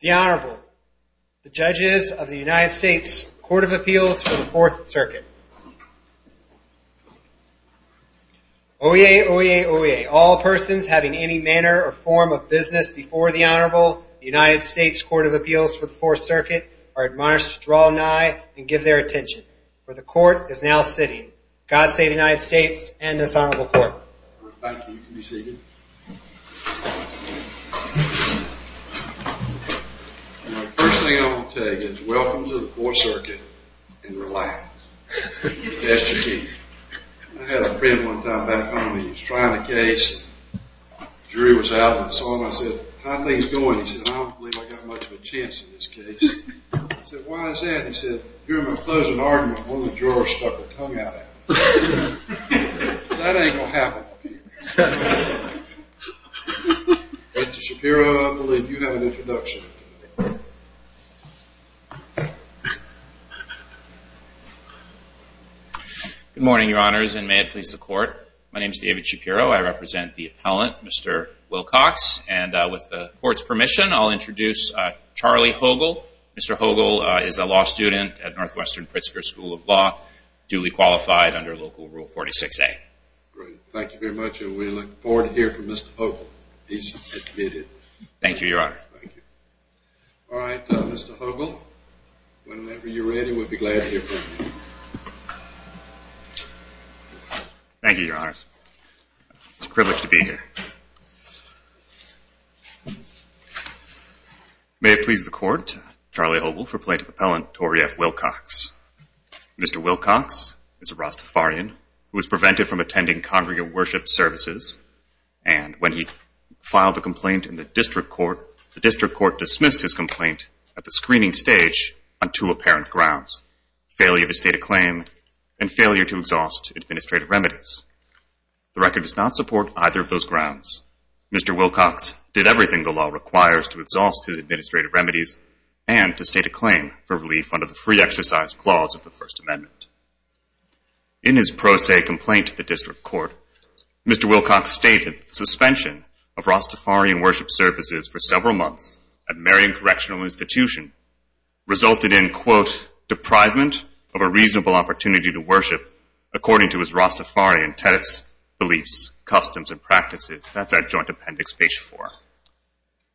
The Honorable, the Judges of the United States Court of Appeals for the Fourth Circuit. Oyez, oyez, oyez. All persons having any manner or form of business before the Honorable, the United States Court of Appeals for the Fourth Circuit, are admonished to draw nigh and give their attention, for the Court is now sitting. God save the United States and this Honorable Court. Thank you. You can be seated. The first thing I want to tell you is welcome to the Fourth Circuit and relax. That's the key. I had a friend one time back home. He was trying a case. The jury was out, and I saw him. I said, how are things going? He said, I don't believe I've got much of a chance in this case. I said, why is that? He said, you're in my closing argument. I'm willing to try. I said, why is that? The jury stuck their tongue out at me. That ain't gonna happen. Mr. Shapiro, I'm going to let you have an introduction. Good morning, Your Honors, and may it please the Court. My name is David Shapiro. I represent the appellant, Mr. Wilcox. And with the Court's permission, I'll introduce Charlie Hogle. Mr. Hogle is a law student at Northwestern Pritzker School of Law, and he is the Court's I'm the Court's attorney. qualified under Local Rule 46A. Thank you very much, and we look forward to hearing from Mr. Hogle. Thank you, Your Honor. Thank you. All right, Mr. Hogle, whenever you're ready, we'll be glad to hear from you. Thank you, Your Honors. It's a privilege to be here. May it please the Court, Charlie Hogle for Plaintiff Appellant, Torey F. Wilcox. Thank you. All right, Mr. Hogle, whenever you're ready, we'll be glad to hear from you. Mr. Wilcox is a Rastafarian who was prevented from attending congregate worship services. And when he filed a complaint in the district court, the district court dismissed his complaint at the screening stage on two apparent grounds, failure to state a claim and failure to exhaust administrative remedies. The record does not support either of those grounds. Mr. Wilcox did everything the law requires to exhaust his administrative remedies and to state a claim for relief under the Free Exercise Clause of the First Amendment. In his pro se complaint to the district court, Mr. Wilcox stated that the suspension of Rastafarian worship services for several months at Merion Correctional Institution resulted in, quote, deprivement of a reasonable opportunity to worship according to his Rastafarian tenets, beliefs, customs, and practices. That's at Joint Appendix, page four.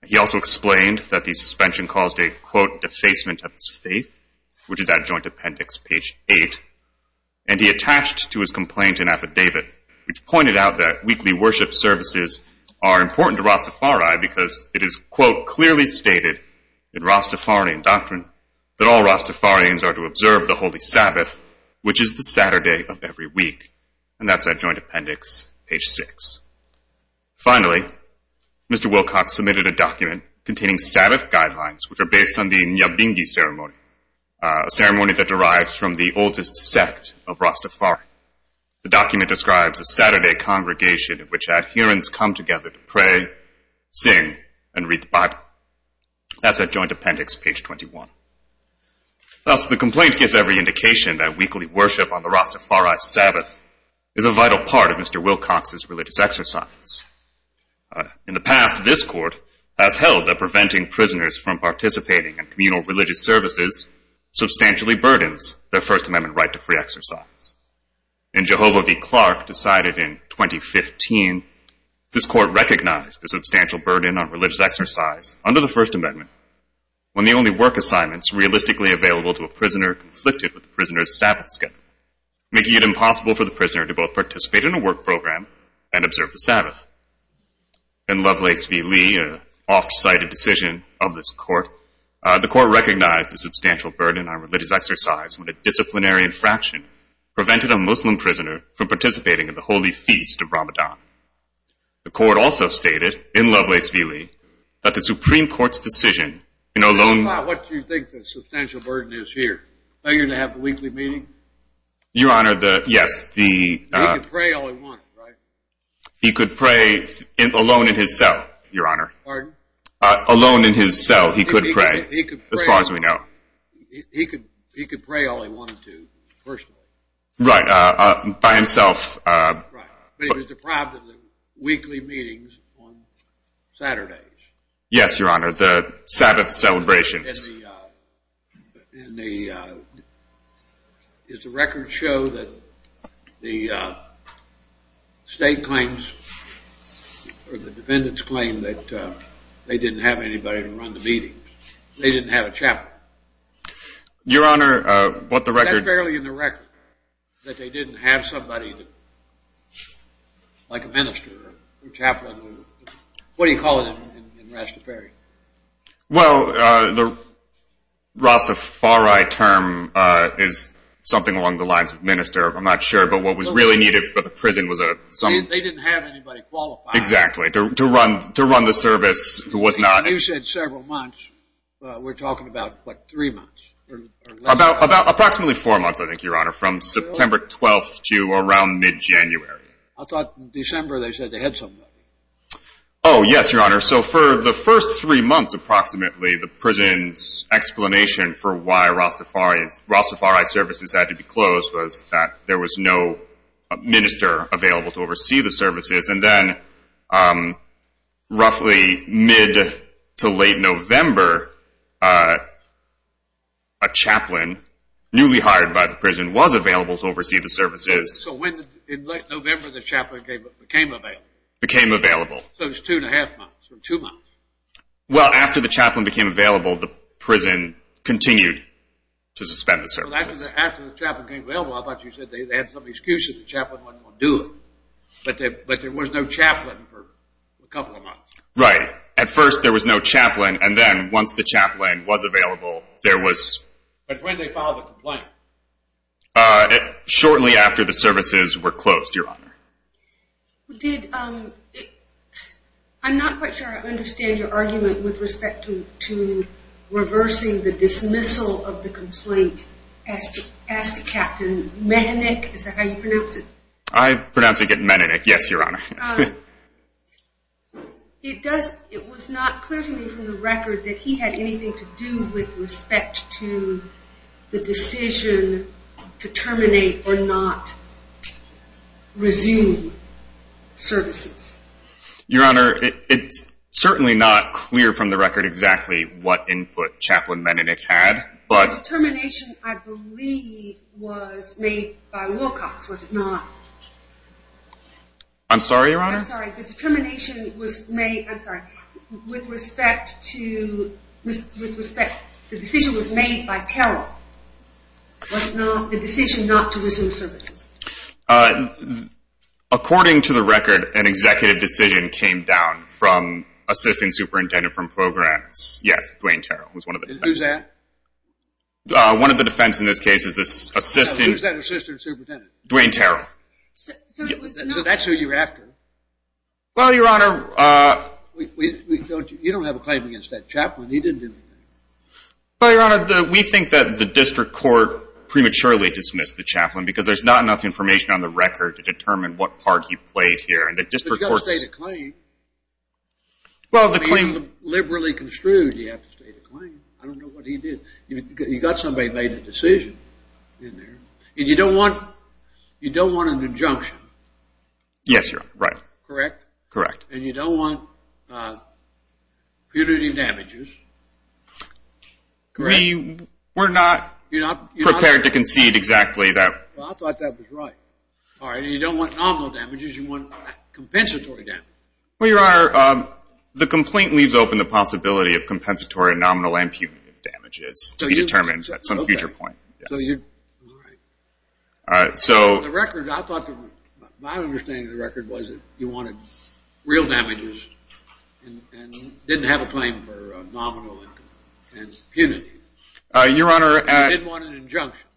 He also explained that the suspension caused a, quote, defacement of his faith, which is at Joint Appendix, page eight. And he attached to his complaint an affidavit, which pointed out that weekly worship services are important to Rastafari because it is, quote, clearly stated in Rastafarian doctrine that all Rastafarians are to observe the Holy Sabbath, which is the Saturday of every week. And that's at Joint Appendix, page six. Finally, Mr. Wilcox submitted a document containing Sabbath guidelines, which are based on the Nyabingi Ceremony, a ceremony that derives from the oldest Sabbath ritual. And that is the Rastafarian sect of Rastafari. The document describes a Saturday congregation in which adherents come together to pray, sing, and read the Bible. That's at Joint Appendix, page 21. Thus, the complaint gives every indication that weekly worship on the Rastafari Sabbath is a vital part of Mr. Wilcox's religious exercise. In the past, this court has held that preventing prisoners from participating in communal religious services substantially burdens their First Amendment right to freedom. But that's not the case with this court's religious exercise. In Jehovah v. Clark, decided in 2015, this court recognized the substantial burden on religious exercise under the First Amendment when the only work assignments realistically available to a prisoner conflicted with the prisoner's Sabbath schedule, making it impossible for the prisoner to both participate in a work program and observe the Sabbath. In Lovelace v. Lee, an off-cited decision of this court, the court recognized the substantial burden on religious exercise when a disciplinary infraction prevented a Muslim prisoner from participating in the holy feast of Ramadan. The court also stated, in Lovelace v. Lee, that the Supreme Court's decision in a lone — This is not what you think the substantial burden is here. Are you going to have the weekly meeting? Your Honor, the — yes, the — He could pray all he wanted, right? He could pray alone in his cell, Your Honor. Pardon? Alone in his cell, he could pray, as far as we know. He could pray all he wanted to, personally. Right, by himself. Right. But he was deprived of the weekly meetings on Saturdays. Yes, Your Honor, the Sabbath celebrations. And the — Does the record show that the state claims, or the defendants claim, that they didn't have anybody to run the meetings? They didn't have a chaplain. Your Honor, what the record — Is that fairly in the record, that they didn't have somebody like a minister or chaplain? What do you call it in Rastafari? Well, the Rastafari term is something along the lines of minister. I'm not sure, but what was really needed for the prison was a — They didn't have anybody qualified. Exactly, to run the service who was not — You said several months. We're talking about, what, three months? Approximately four months, I think, Your Honor, from September 12th to around mid-January. I thought in December they said they had somebody. Oh, yes, Your Honor. So for the first three months, approximately, the prison's explanation for why Rastafari services had to be closed was that there was no minister available to oversee the services. However, a chaplain newly hired by the prison was available to oversee the services. So when, in late November, the chaplain became available? Became available. So it was two and a half months or two months? Well, after the chaplain became available, the prison continued to suspend the services. Well, after the chaplain became available, I thought you said they had some excuse that the chaplain wasn't going to do it. But there was no chaplain for a couple of months. Right. At first, there was no chaplain. And then, once the chaplain was available, there was... But when did they file the complaint? Shortly after the services were closed, Your Honor. Did... I'm not quite sure I understand your argument with respect to reversing the dismissal of the complaint. As to Captain Menenik? Is that how you pronounce it? I pronounce it Menenik. Yes, Your Honor. It does... It was not clear to me from the record that he had anything to do with respect to the decision to terminate or not resume services. Your Honor, it's certainly not clear from the record exactly what input Chaplain Menenik had, but... The determination, I believe, was made by Wilcox, was it not? I'm sorry, Your Honor? I'm sorry. The determination was made... I'm sorry. With respect to... With respect... The decision was made by Terrell. Was it not? The decision not to resume services. According to the record, an executive decision came down from assisting superintendent from programs. Yes, Dwayne Terrell was one of the... Who's that? One of the defense in this case is the assistant... Who's that assistant superintendent? Dwayne Terrell. So that's who you're after? Well, Your Honor, we don't... You don't have a claim against that chaplain. He didn't do anything. Well, Your Honor, we think that the district court prematurely dismissed the chaplain because there's not enough information on the record to determine what part he played here, and the district court... But you've got to state a claim. Well, the claim... I mean, liberally construed, you have to state a claim. I don't know what he did. You've got somebody who made a decision in there, and you don't want... You don't want an injunction. Yes, Your Honor, right. Correct? Correct. And you don't want punitive damages. Correct? We're not prepared to concede exactly that. Well, I thought that was right. All right. And you don't want nominal damages. You want compensatory damage. Well, Your Honor, the complaint leaves open the possibility of compensatory, nominal, and punitive damages to be determined at some future point. So you... All right. So... The record... My understanding of the record was that you wanted real damages and didn't have a claim for nominal and punitive. Your Honor... And you didn't want an injunction.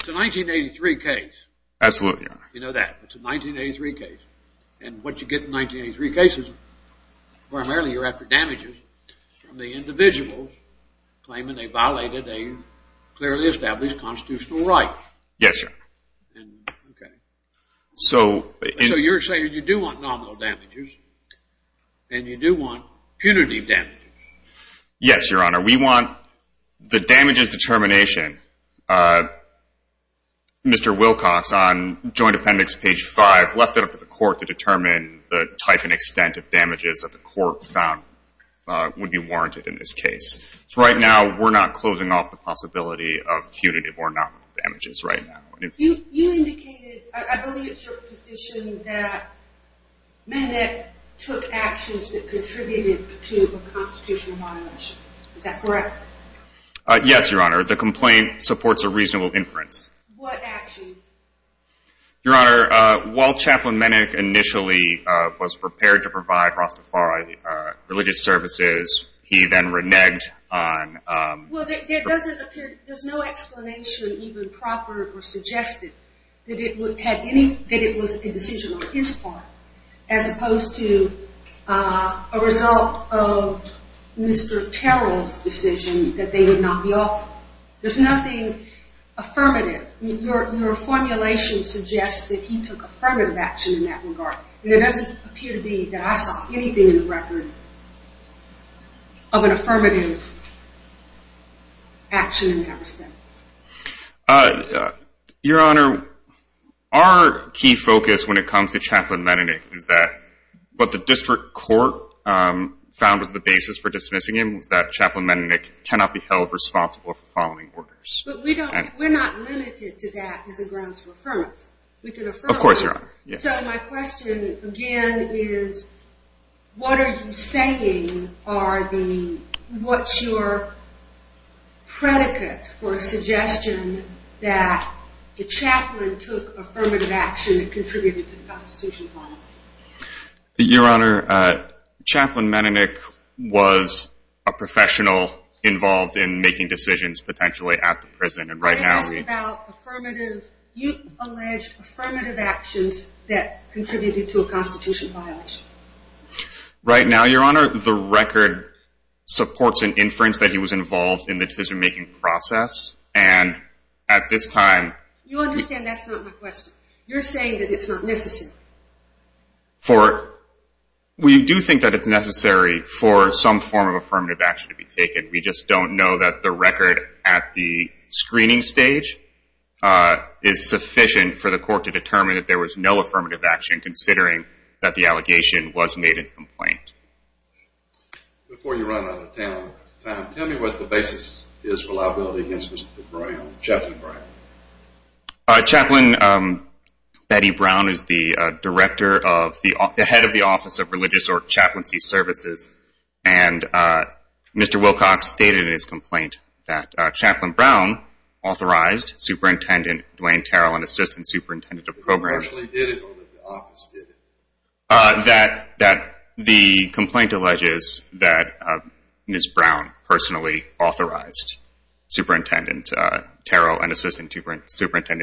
It's a 1983 case. Absolutely, Your Honor. You know that. It's a 1983 case. And what you get in 1983 cases, primarily, you're after damages from the individuals claiming they violated a clearly established constitutional right. Yes, Your Honor. And... Okay. So... You do want nominal damages. And you do want punitive damages. Yes, Your Honor. We want the damages determination. Uh... Mr. Wilcox, on joint appendix page 5, left it up to the court to determine the type and extent of damages that the court found would be warranted in this case. So right now, we're not closing off the possibility of punitive or nominal damages right now. You indicated... I believe it's your position that Mennick took actions that contributed to a constitutional violation. Is that correct? Yes, Your Honor. The complaint supports a reasonable inference. What actions? Your Honor, while Chaplain Mennick initially was prepared to provide Rastafari religious services, he then reneged on... Well, there doesn't appear... There's no explanation even proffered or suggested that it would have any... that it was a decision on his part. As opposed to a result of Mr. Terrell's decision that they would not be offered. There's nothing affirmative. Your formulation suggests that he took affirmative action in that regard. There doesn't appear to be that I saw anything in the record of an affirmative action in that respect. Uh... Your Honor, our key focus when it comes to Chaplain Mennick is that what the district court found was the basis for dismissing him was that Chaplain Mennick cannot be held responsible for following orders. But we don't... We're not limited to that as a grounds for affirmance. We can affirm... Of course, Your Honor. So my question, again, is what are you saying are the... what's your predicate for a suggestion that the chaplain took affirmative action and contributed to a constitution violation? Your Honor, uh... Chaplain Mennick was a professional involved in making decisions potentially at the prison and right now... You asked about affirmative... you alleged affirmative actions that contributed to a constitution violation. Right now, Your Honor, the record supports an inference that he was involved in the decision-making process and at this time... You understand that's not my question. You're saying that it's not necessary. For... We do think that it's necessary for some form of affirmative action to be taken. We just don't know that the record at the screening stage uh... is sufficient for the court to determine that there was no affirmative action considering that the allegation was made in complaint. Before you run out of time, tell me what the basis is for liability against Mr. Brown, Chaplain Brown. Uh... Chaplain Betty Brown is the director of... the head of the office of Religious or Chaplaincy Services and Mr. Wilcox stated in his complaint that Chaplain Brown authorized Superintendent Dwayne Terrell and Assistant Superintendent of Programs... He personally did it or the office did it? Uh... that... that... the complaint alleges that Chaplain Brown authorized Assistant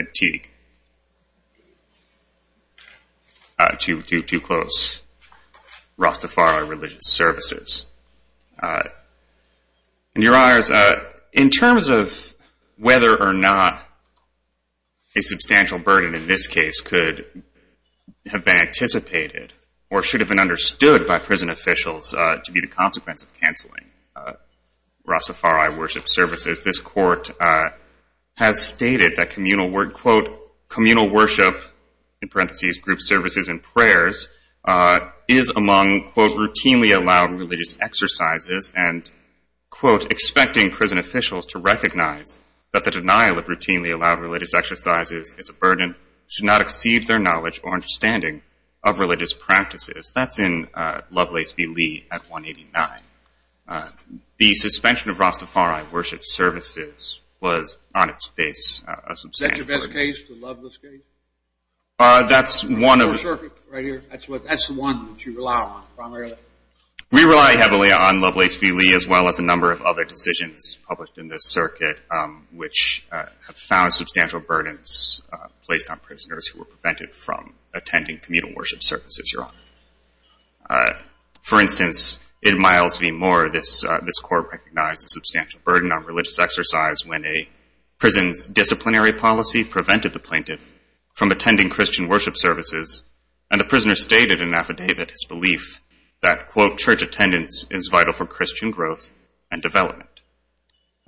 Superintendent Teague uh... to... to close Rastafari Religious Services. Uh... In your honors, uh... in terms of whether or not a substantial burden in this case could have been anticipated or should have been understood by prison officials uh... to be the consequence of canceling uh... Rastafari Worship Services. This court uh... has stated that communal worship in parenthesis group services and prayers uh... is among routinely allowed religious exercises and quote expecting prison officials to recognize that the denial of routinely allowed religious exercises is a burden should not exceed their knowledge or understanding of religious practices. That's in uh... Lovelace v. Lee at 189. Uh... The suspension of Rastafari Worship Services was on its face a substantial burden. Is that your best case? The Lovelace case? Uh... That's one of... Right here? That's the one that you rely on primarily? We rely heavily on Lovelace v. Lee as well as a number of other decisions published in this circuit um... which have found substantial burdens placed on prisoners who were prevented from attending communal worship services, uh... for instance in Miles v. Moore this uh... this court recognized a substantial burden on religious exercise when a prison's disciplinary policy prevented the plaintiff from attending Christian worship services and the prisoner stated in an affidavit his belief that quote church attendance is vital for Christian growth and development.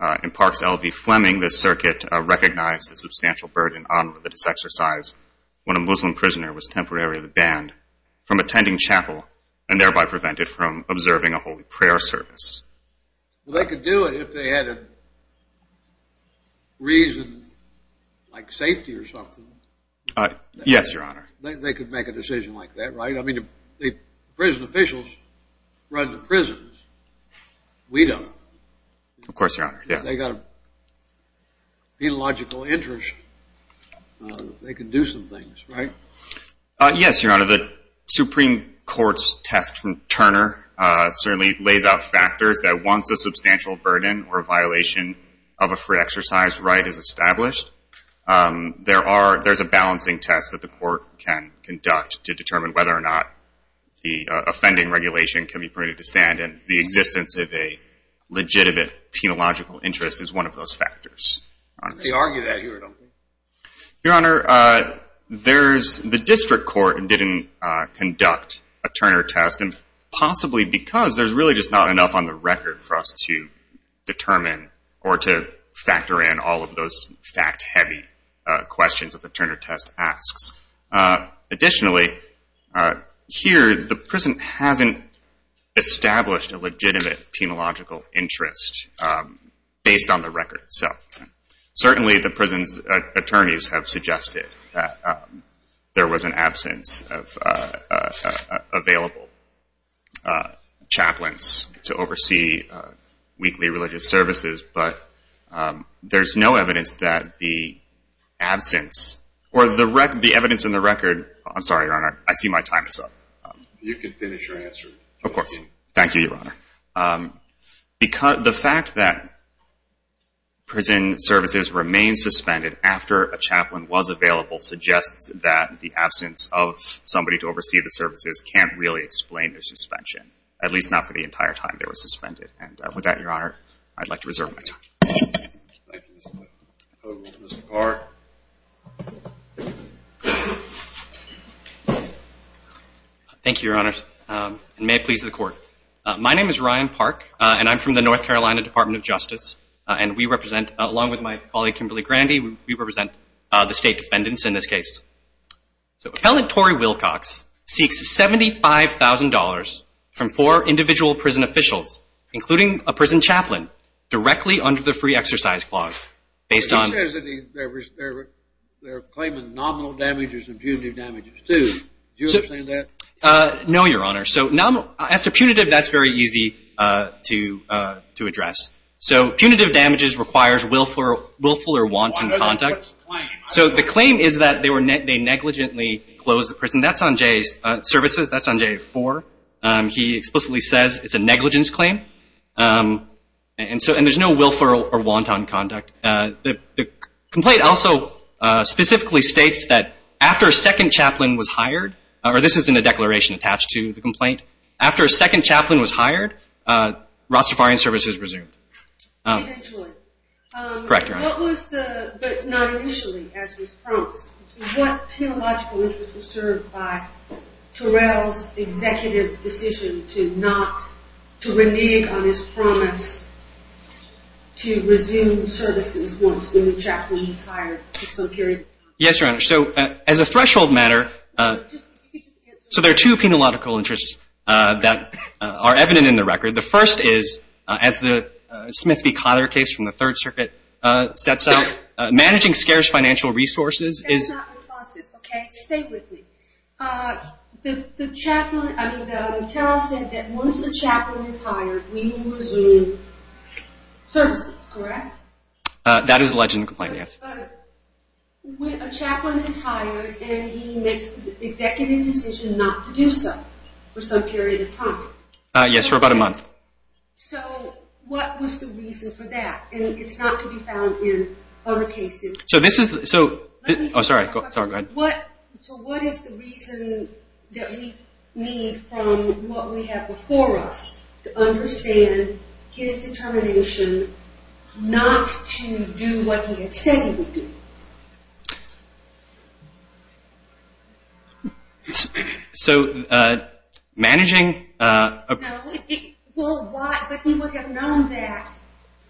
Uh... In Parks L. V. Fleming this circuit recognized a substantial burden on religious exercise when a Muslim prisoner was temporarily banned from attending chapel and thereby prevented from observing a holy prayer service. They could do it if they had a reason like safety or something. Uh... Yes, your honor. They could make a decision like that, right? I mean prison officials run the prisons. We don't. Of course, your honor, yes. They got a penological interest uh... they can do some things, right? Uh... Yes, your honor. The Supreme Court's test from Turner uh... certainly lays out factors that once a substantial burden or a violation of a free exercise right is established um... there are there's a balancing test that the court can conduct to determine whether or not the offending regulation can be permitted to stand and the uh... there's the district court didn't uh... conduct a Turner test and possibly because there's really just not enough on the record for us to determine or to factor in all of those fact-heavy questions that the Turner test asks. Uh... Additionally, uh... here, the prison hasn't established a legitimate penological interest uh... based on the record itself. Certainly, the prison's attorneys have suggested that there was an absence of uh... available uh... to oversee uh... weekly religious services, but there's no evidence that the absence or the evidence in the record I'm sorry, your honor, I see my time is up. You can finish your answer. Of course. Thank you, your honor. Um... Because the fact that prison services remain suspended after a chaplain was available suggests that the absence of somebody to oversee the services can't really explain the suspension, at least not for the entire time they were suspended. And with that, your honor, I'd like to turn it over to Ryan. Thank you, your honor. May it please the court. My name is Ryan Park, and I'm from the North Carolina Department of Justice, and we represent, along with my colleague, Kimberly Grandy, we represent the state defendants in this case. So, appellant Torrey Wilcox seeks $75,000 from four individual prison officials, including a prison chaplain, directly under the free exercise clause. They're claiming nominal damages and punitive damages, too. Do you understand that? No, your honor. As to punitive, that's very easy to address. So, punitive damages requires willful or wanton conduct. So, the claim is that they negligently closed the prison. That's on J4. He explicitly says it's a negligence claim, and there's no willful or wanton conduct. The complaint also specifically states that after a second chaplain was hired, Rastafarian services resumed. But not initially, as was promised. penological interest was served by Terrell's executive decision to not, to renege on his promise to resume services once the new chaplain was hired? Yes, your honor. So, as a threshold matter, so there are two penological interests that are evident in the record. The first is, as the Smith v. Cotter case from the third circuit sets out, managing scarce financial resources is not responsive, okay? Stay with me. The chaplain, I mean, Terrell said that once the chaplain is hired, we will resume services, correct? That is the legend of the complaint, yes. But a chaplain is hired and he makes the executive decision not to do so for some period of time. Yes, for about a month. So, what was the reason for that? And it's not to be found in other cases. So, this is, so, oh, sorry, go ahead. So, what is the reason that we need from what we have before us to understand his determination not to do what he had said he would do? So, uh, managing, uh, No, well, why, but he would have known that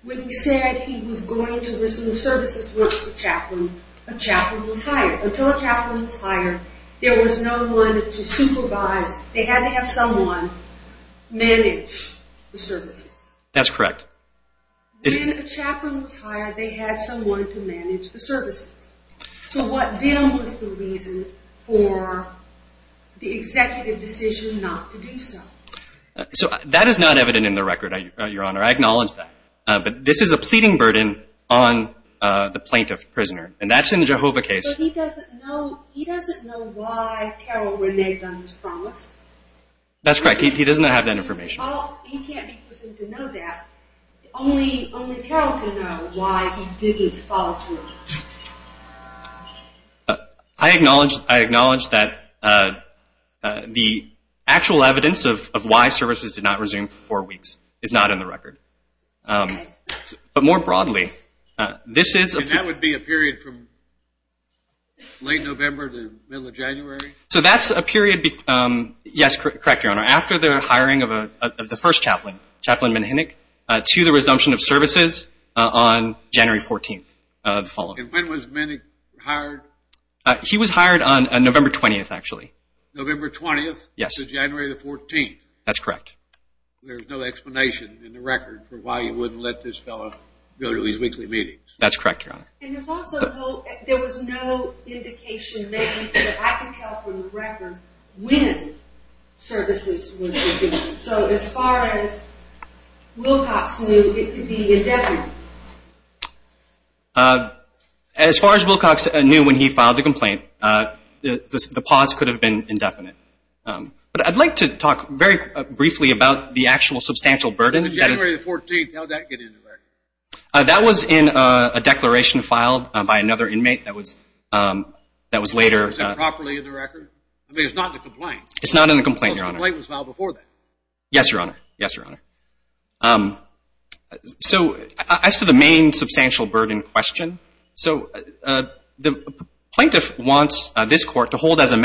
when he said he was going to resume services once the chaplain, a chaplain was hired. Until a chaplain was hired, there was no one to supervise. They had to have someone manage the services. That's correct. When a chaplain was hired, they had someone to manage the services. So, what then was the reason for the executive decision not to do so? So, that is not true. And that's in the Jehovah case. But he doesn't know, he doesn't know why Carol reneged on his promise? That's correct. He does not have that information. Well, he can't be presumed to know that. Only, only Carol can know why he didn't follow through. I acknowledge, I acknowledge that, uh, the actual evidence of why services did not resume for four weeks is not in the record. But more broadly, this is a period... And that would be a period from late November to middle of January? So, that's a period, um, yes, correct, Your Honor, after the hiring of the first chaplain, Chaplain Wilcox, on January 14th, uh, the following. And when was Menick hired? Uh, he was hired on November 20th, actually. November 20th? Yes. To January the 14th? That's correct. There's no explanation in the record for why he wouldn't let this fellow go to his weekly meetings? That's correct, Your Honor. And there's no to his weekly meetings? That's correct, Your Honor. Uh, as far as Wilcox knew when he filed the complaint, uh, the pause could have been indefinite. Um, but I'd like to talk very briefly about the actual substantial burden. January the 14th, how did that get in the record? Uh, that was in, uh, a declaration filed by another inmate that was, um, that was later. Is that properly in the record? I mean, it's not in the complaint. It's not in the complaint, Your Honor. The complaint was filed before that. Yes, Your Honor. Yes, Your Honor. Um, so, as to the main substantial burden question, so, uh, the plaintiff wants, uh, this court to hold as a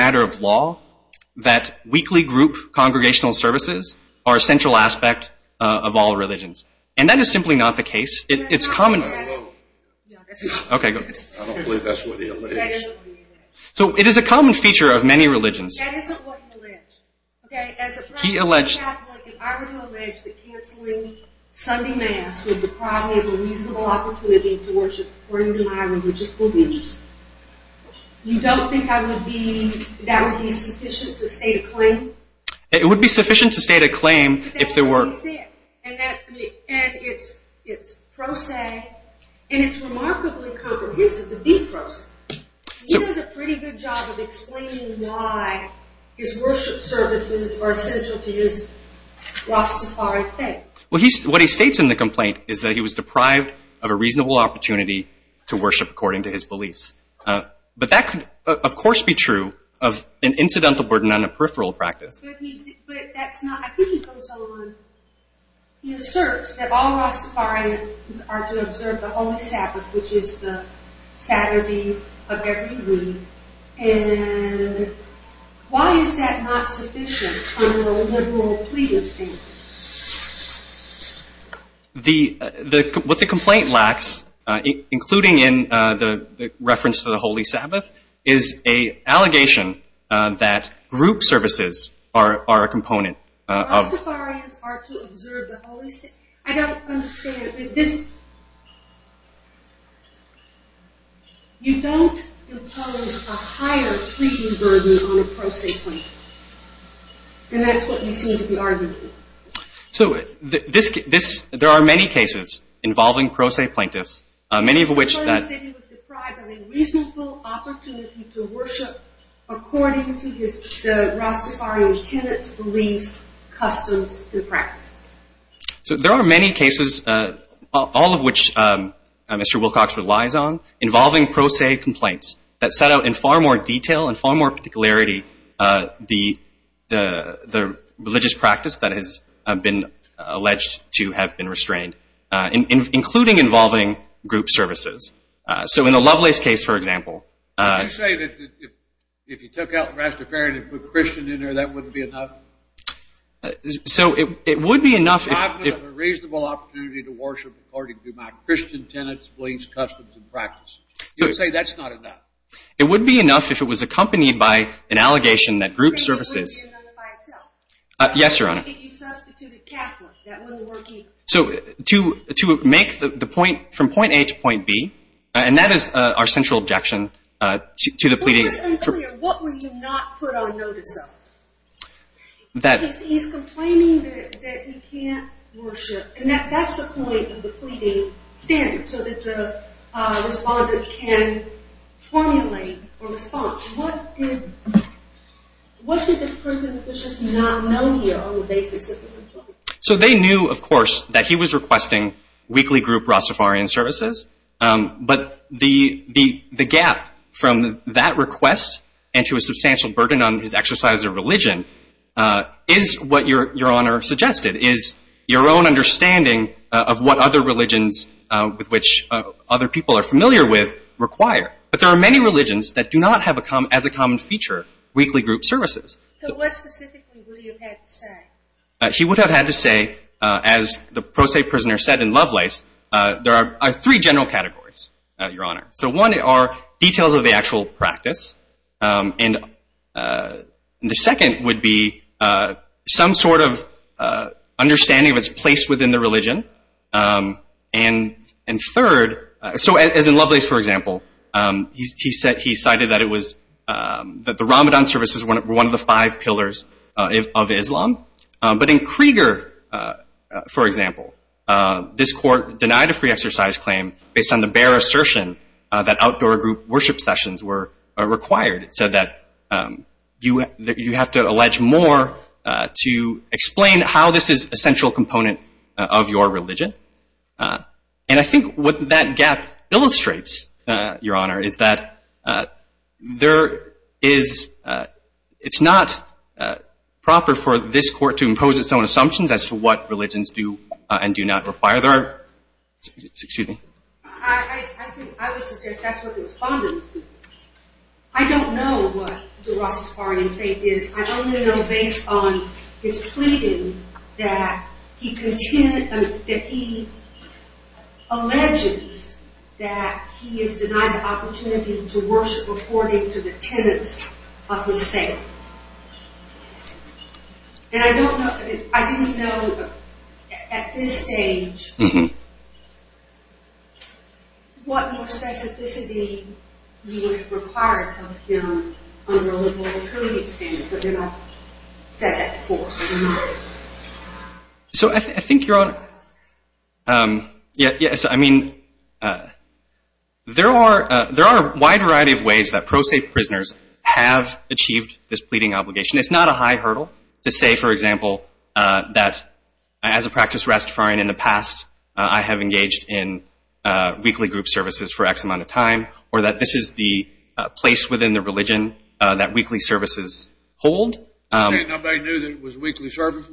reasonable opportunity to worship according to my religious beliefs. You don't think I would be, that would be sufficient to state a claim? It would be sufficient to state a claim if there were. But that's what he said, and that, and it's, it's pro se, and it's remarkably comprehensive, the deep pro se. He does a pretty good job of explaining why his worship services are essential to his Rastafari faith. Well, he's, what he states in the complaint is that he was deprived of a reasonable opportunity to worship according to his beliefs. Uh, but that could, of course, be true of an incidental burden on a peripheral practice. But he, but that's not, I think he goes on, he asserts that all Rastafarians are to observe the Holy Sabbath, which is the Saturday of every week, why is that not sufficient under a liberal plea of statehood? The, the, what the complaint lacks, including in the, the reference to the Sunday week, are, are a component of. Rastafarians are to observe the Holy Sabbath, I don't understand, this, you don't impose a higher treating burden on a pro se plaintiff, and that's what you seem to be arguing. So, this, this, there are many cases involving pro se plaintiffs, many of which. He said he was deprived of a reasonable opportunity to worship according to his, the Rastafarian tenant's beliefs, customs, and practices. So there are many cases, all of which Mr. Wilcox relies on, involving pro se complaints, that set out in far more detail and far more particularity the, the, the religious practice that has been alleged to have been restrained, including involving group services. So in the Lovelace case, for example. You say that if you took out Rastafarian and put Christian in there, that wouldn't be enough? So, it would be enough if, if, a reasonable opportunity to worship according to my tenants, beliefs, customs, and practices. You would say that's not enough? It would be enough if it was accompanied by an allegation that group services. Yes, Your Honor. If you substituted Catholic, that wouldn't work either? So, to, to make the, the point, from point A to point B, and that is our central objection to the pleading. What were you not put on notice of? He's complaining that he can't worship, and that's the point of the pleading standard, so that the respondent can formulate a response. What did, what did the prison officials not know here on the basis of the complaint? So they knew, of course, that he was requesting weekly group Rastafarian services, but the, the, the gap from that request, and to a substantial burden on his exercise of religion, is what Your Honor suggested, is your own understanding of what other religions, with which other people are familiar with, require. But there are many religions that do not have as a common feature, weekly group services. So what specifically would you have had to say? He would have had to say, as the pro se prisoner said in Lovelace, there are three general categories, Your Honor. So one are details of the actual practice, and the second would be some sort of understanding of its place within the religion, and third, so as in Lovelace, for example, he cited that it was, that the Ramadan services were one of the five pillars of Islam, but in Krieger, for example, this court denied a free exercise claim based on the bare assertion that outdoor group worship sessions were required. It said that you have to allege more to explain how this is a central component of your religion, and I think what that gap illustrates, Your Honor, is that there is, it's not proper for this court to impose its own assumptions as to what religions do and do not require. There are, excuse me. I think I would suggest that's what the respondents do. I don't know what the response was to the question that he alleges that he is denied the opportunity to worship according to the tenets of his faith. And I don't know, I didn't know at this stage what more specificity you would require of him under a liberal community standard, but then you have said that before. So I think, Your Honor, yes, I mean, there are a wide variety of ways that pro se prisoners have achieved this pleading obligation. It's not a high hurdle to say, for example, that as a practice Rastafarian in the past, I have engaged in weekly group services for X amount of people. Didn't anybody know that it was weekly services?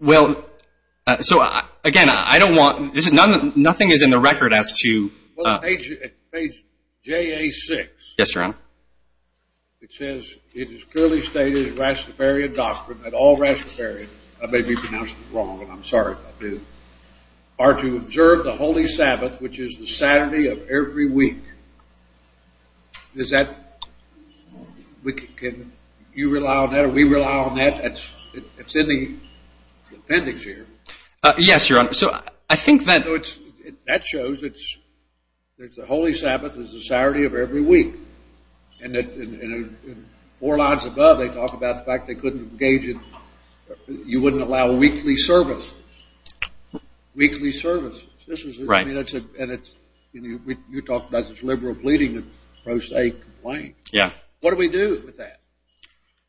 Well, so, again, I don't want, nothing is in the record as to... Well, page JA6. Yes, Your Honor. It says it is clearly stated in Rastafarian doctrine that all Rastafarians are to observe the Holy Sabbath, which is the Saturday of every week. Is that... Can you rely on that? Are we relying on that? It's in the appendix here. Yes, Your Honor. So, I think that... That shows it's the Holy Sabbath is the Saturday of every week. And four lines above they talk about the fact they couldn't engage in... You wouldn't allow weekly services. Weekly services. Right. And you talked about this liberal pleading and pro se complaint. Yeah. What do we do with that?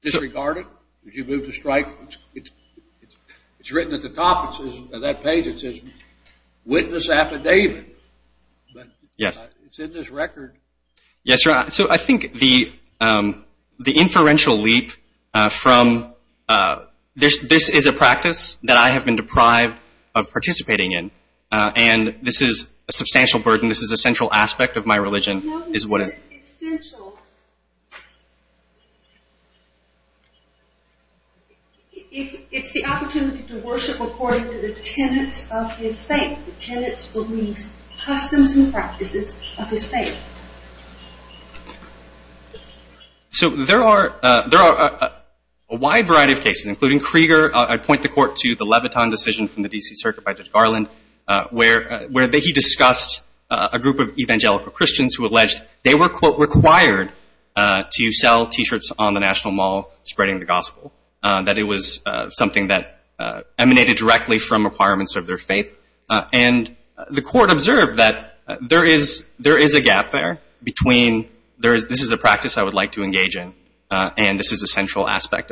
Disregard it? Would you move to strike? It's written at the top of that page. It says witness affidavit. Yes. It's in this record. Yes, Your Honor. So, I think the inferential leap from... This is a practice that I have been deprived of participating in. And this is a substantial burden. And I think this is central aspect of my religion. No, it's essential. It's the opportunity to worship according to the tenets of his faith, the tenets, beliefs, customs, and practices of his faith. So, there are a wide variety of cases, including Krieger. I point the court to the Leviton decision from the D.C. Circuit by Judge Garland, where he discussed a group of evangelical Christians who believed in the gospel, that it was something that emanated directly from requirements of their faith. And the court observed that there is a gap there between this is the practice I would like to with you. Returning to the question of whether or not attending religious services on the Sabbath is central to Mr. Wilcox's religious exercise. The Supreme Court has repeatedly and in many different contexts stated that it is beyond the competence of the courts to particular religious belief or practice. The task of determining the centrality of a particular religious practice is to determine the difference between and religious practice. The Supreme Court in 2007 states that injury to a protected First Amendment interest can itself constitute compensable injury wholly apart from any emotional tort law. It can be discussed at length in an appellant's reply pages 11-20. The tort law distinguishes between mental and emotional injuries. The Second, Sixth, Seventh, and Ninth Circuits have the same distinction between an injury to liberty under the First Amendment and a mere mental or emotional injury under traditional tort law and under the Prison Litigation Reform Act 1995. Finally, as the Court has indicated, the Second Circuit has the same distinction mental or emotional injuries under the First Amendment and under the Prison Litigation Reform Act 1995. The Court First Amendment and under the Prison Litigation Reform Act 1995. The Court has the same distinction mental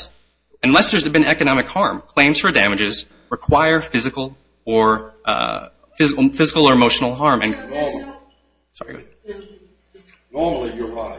emotional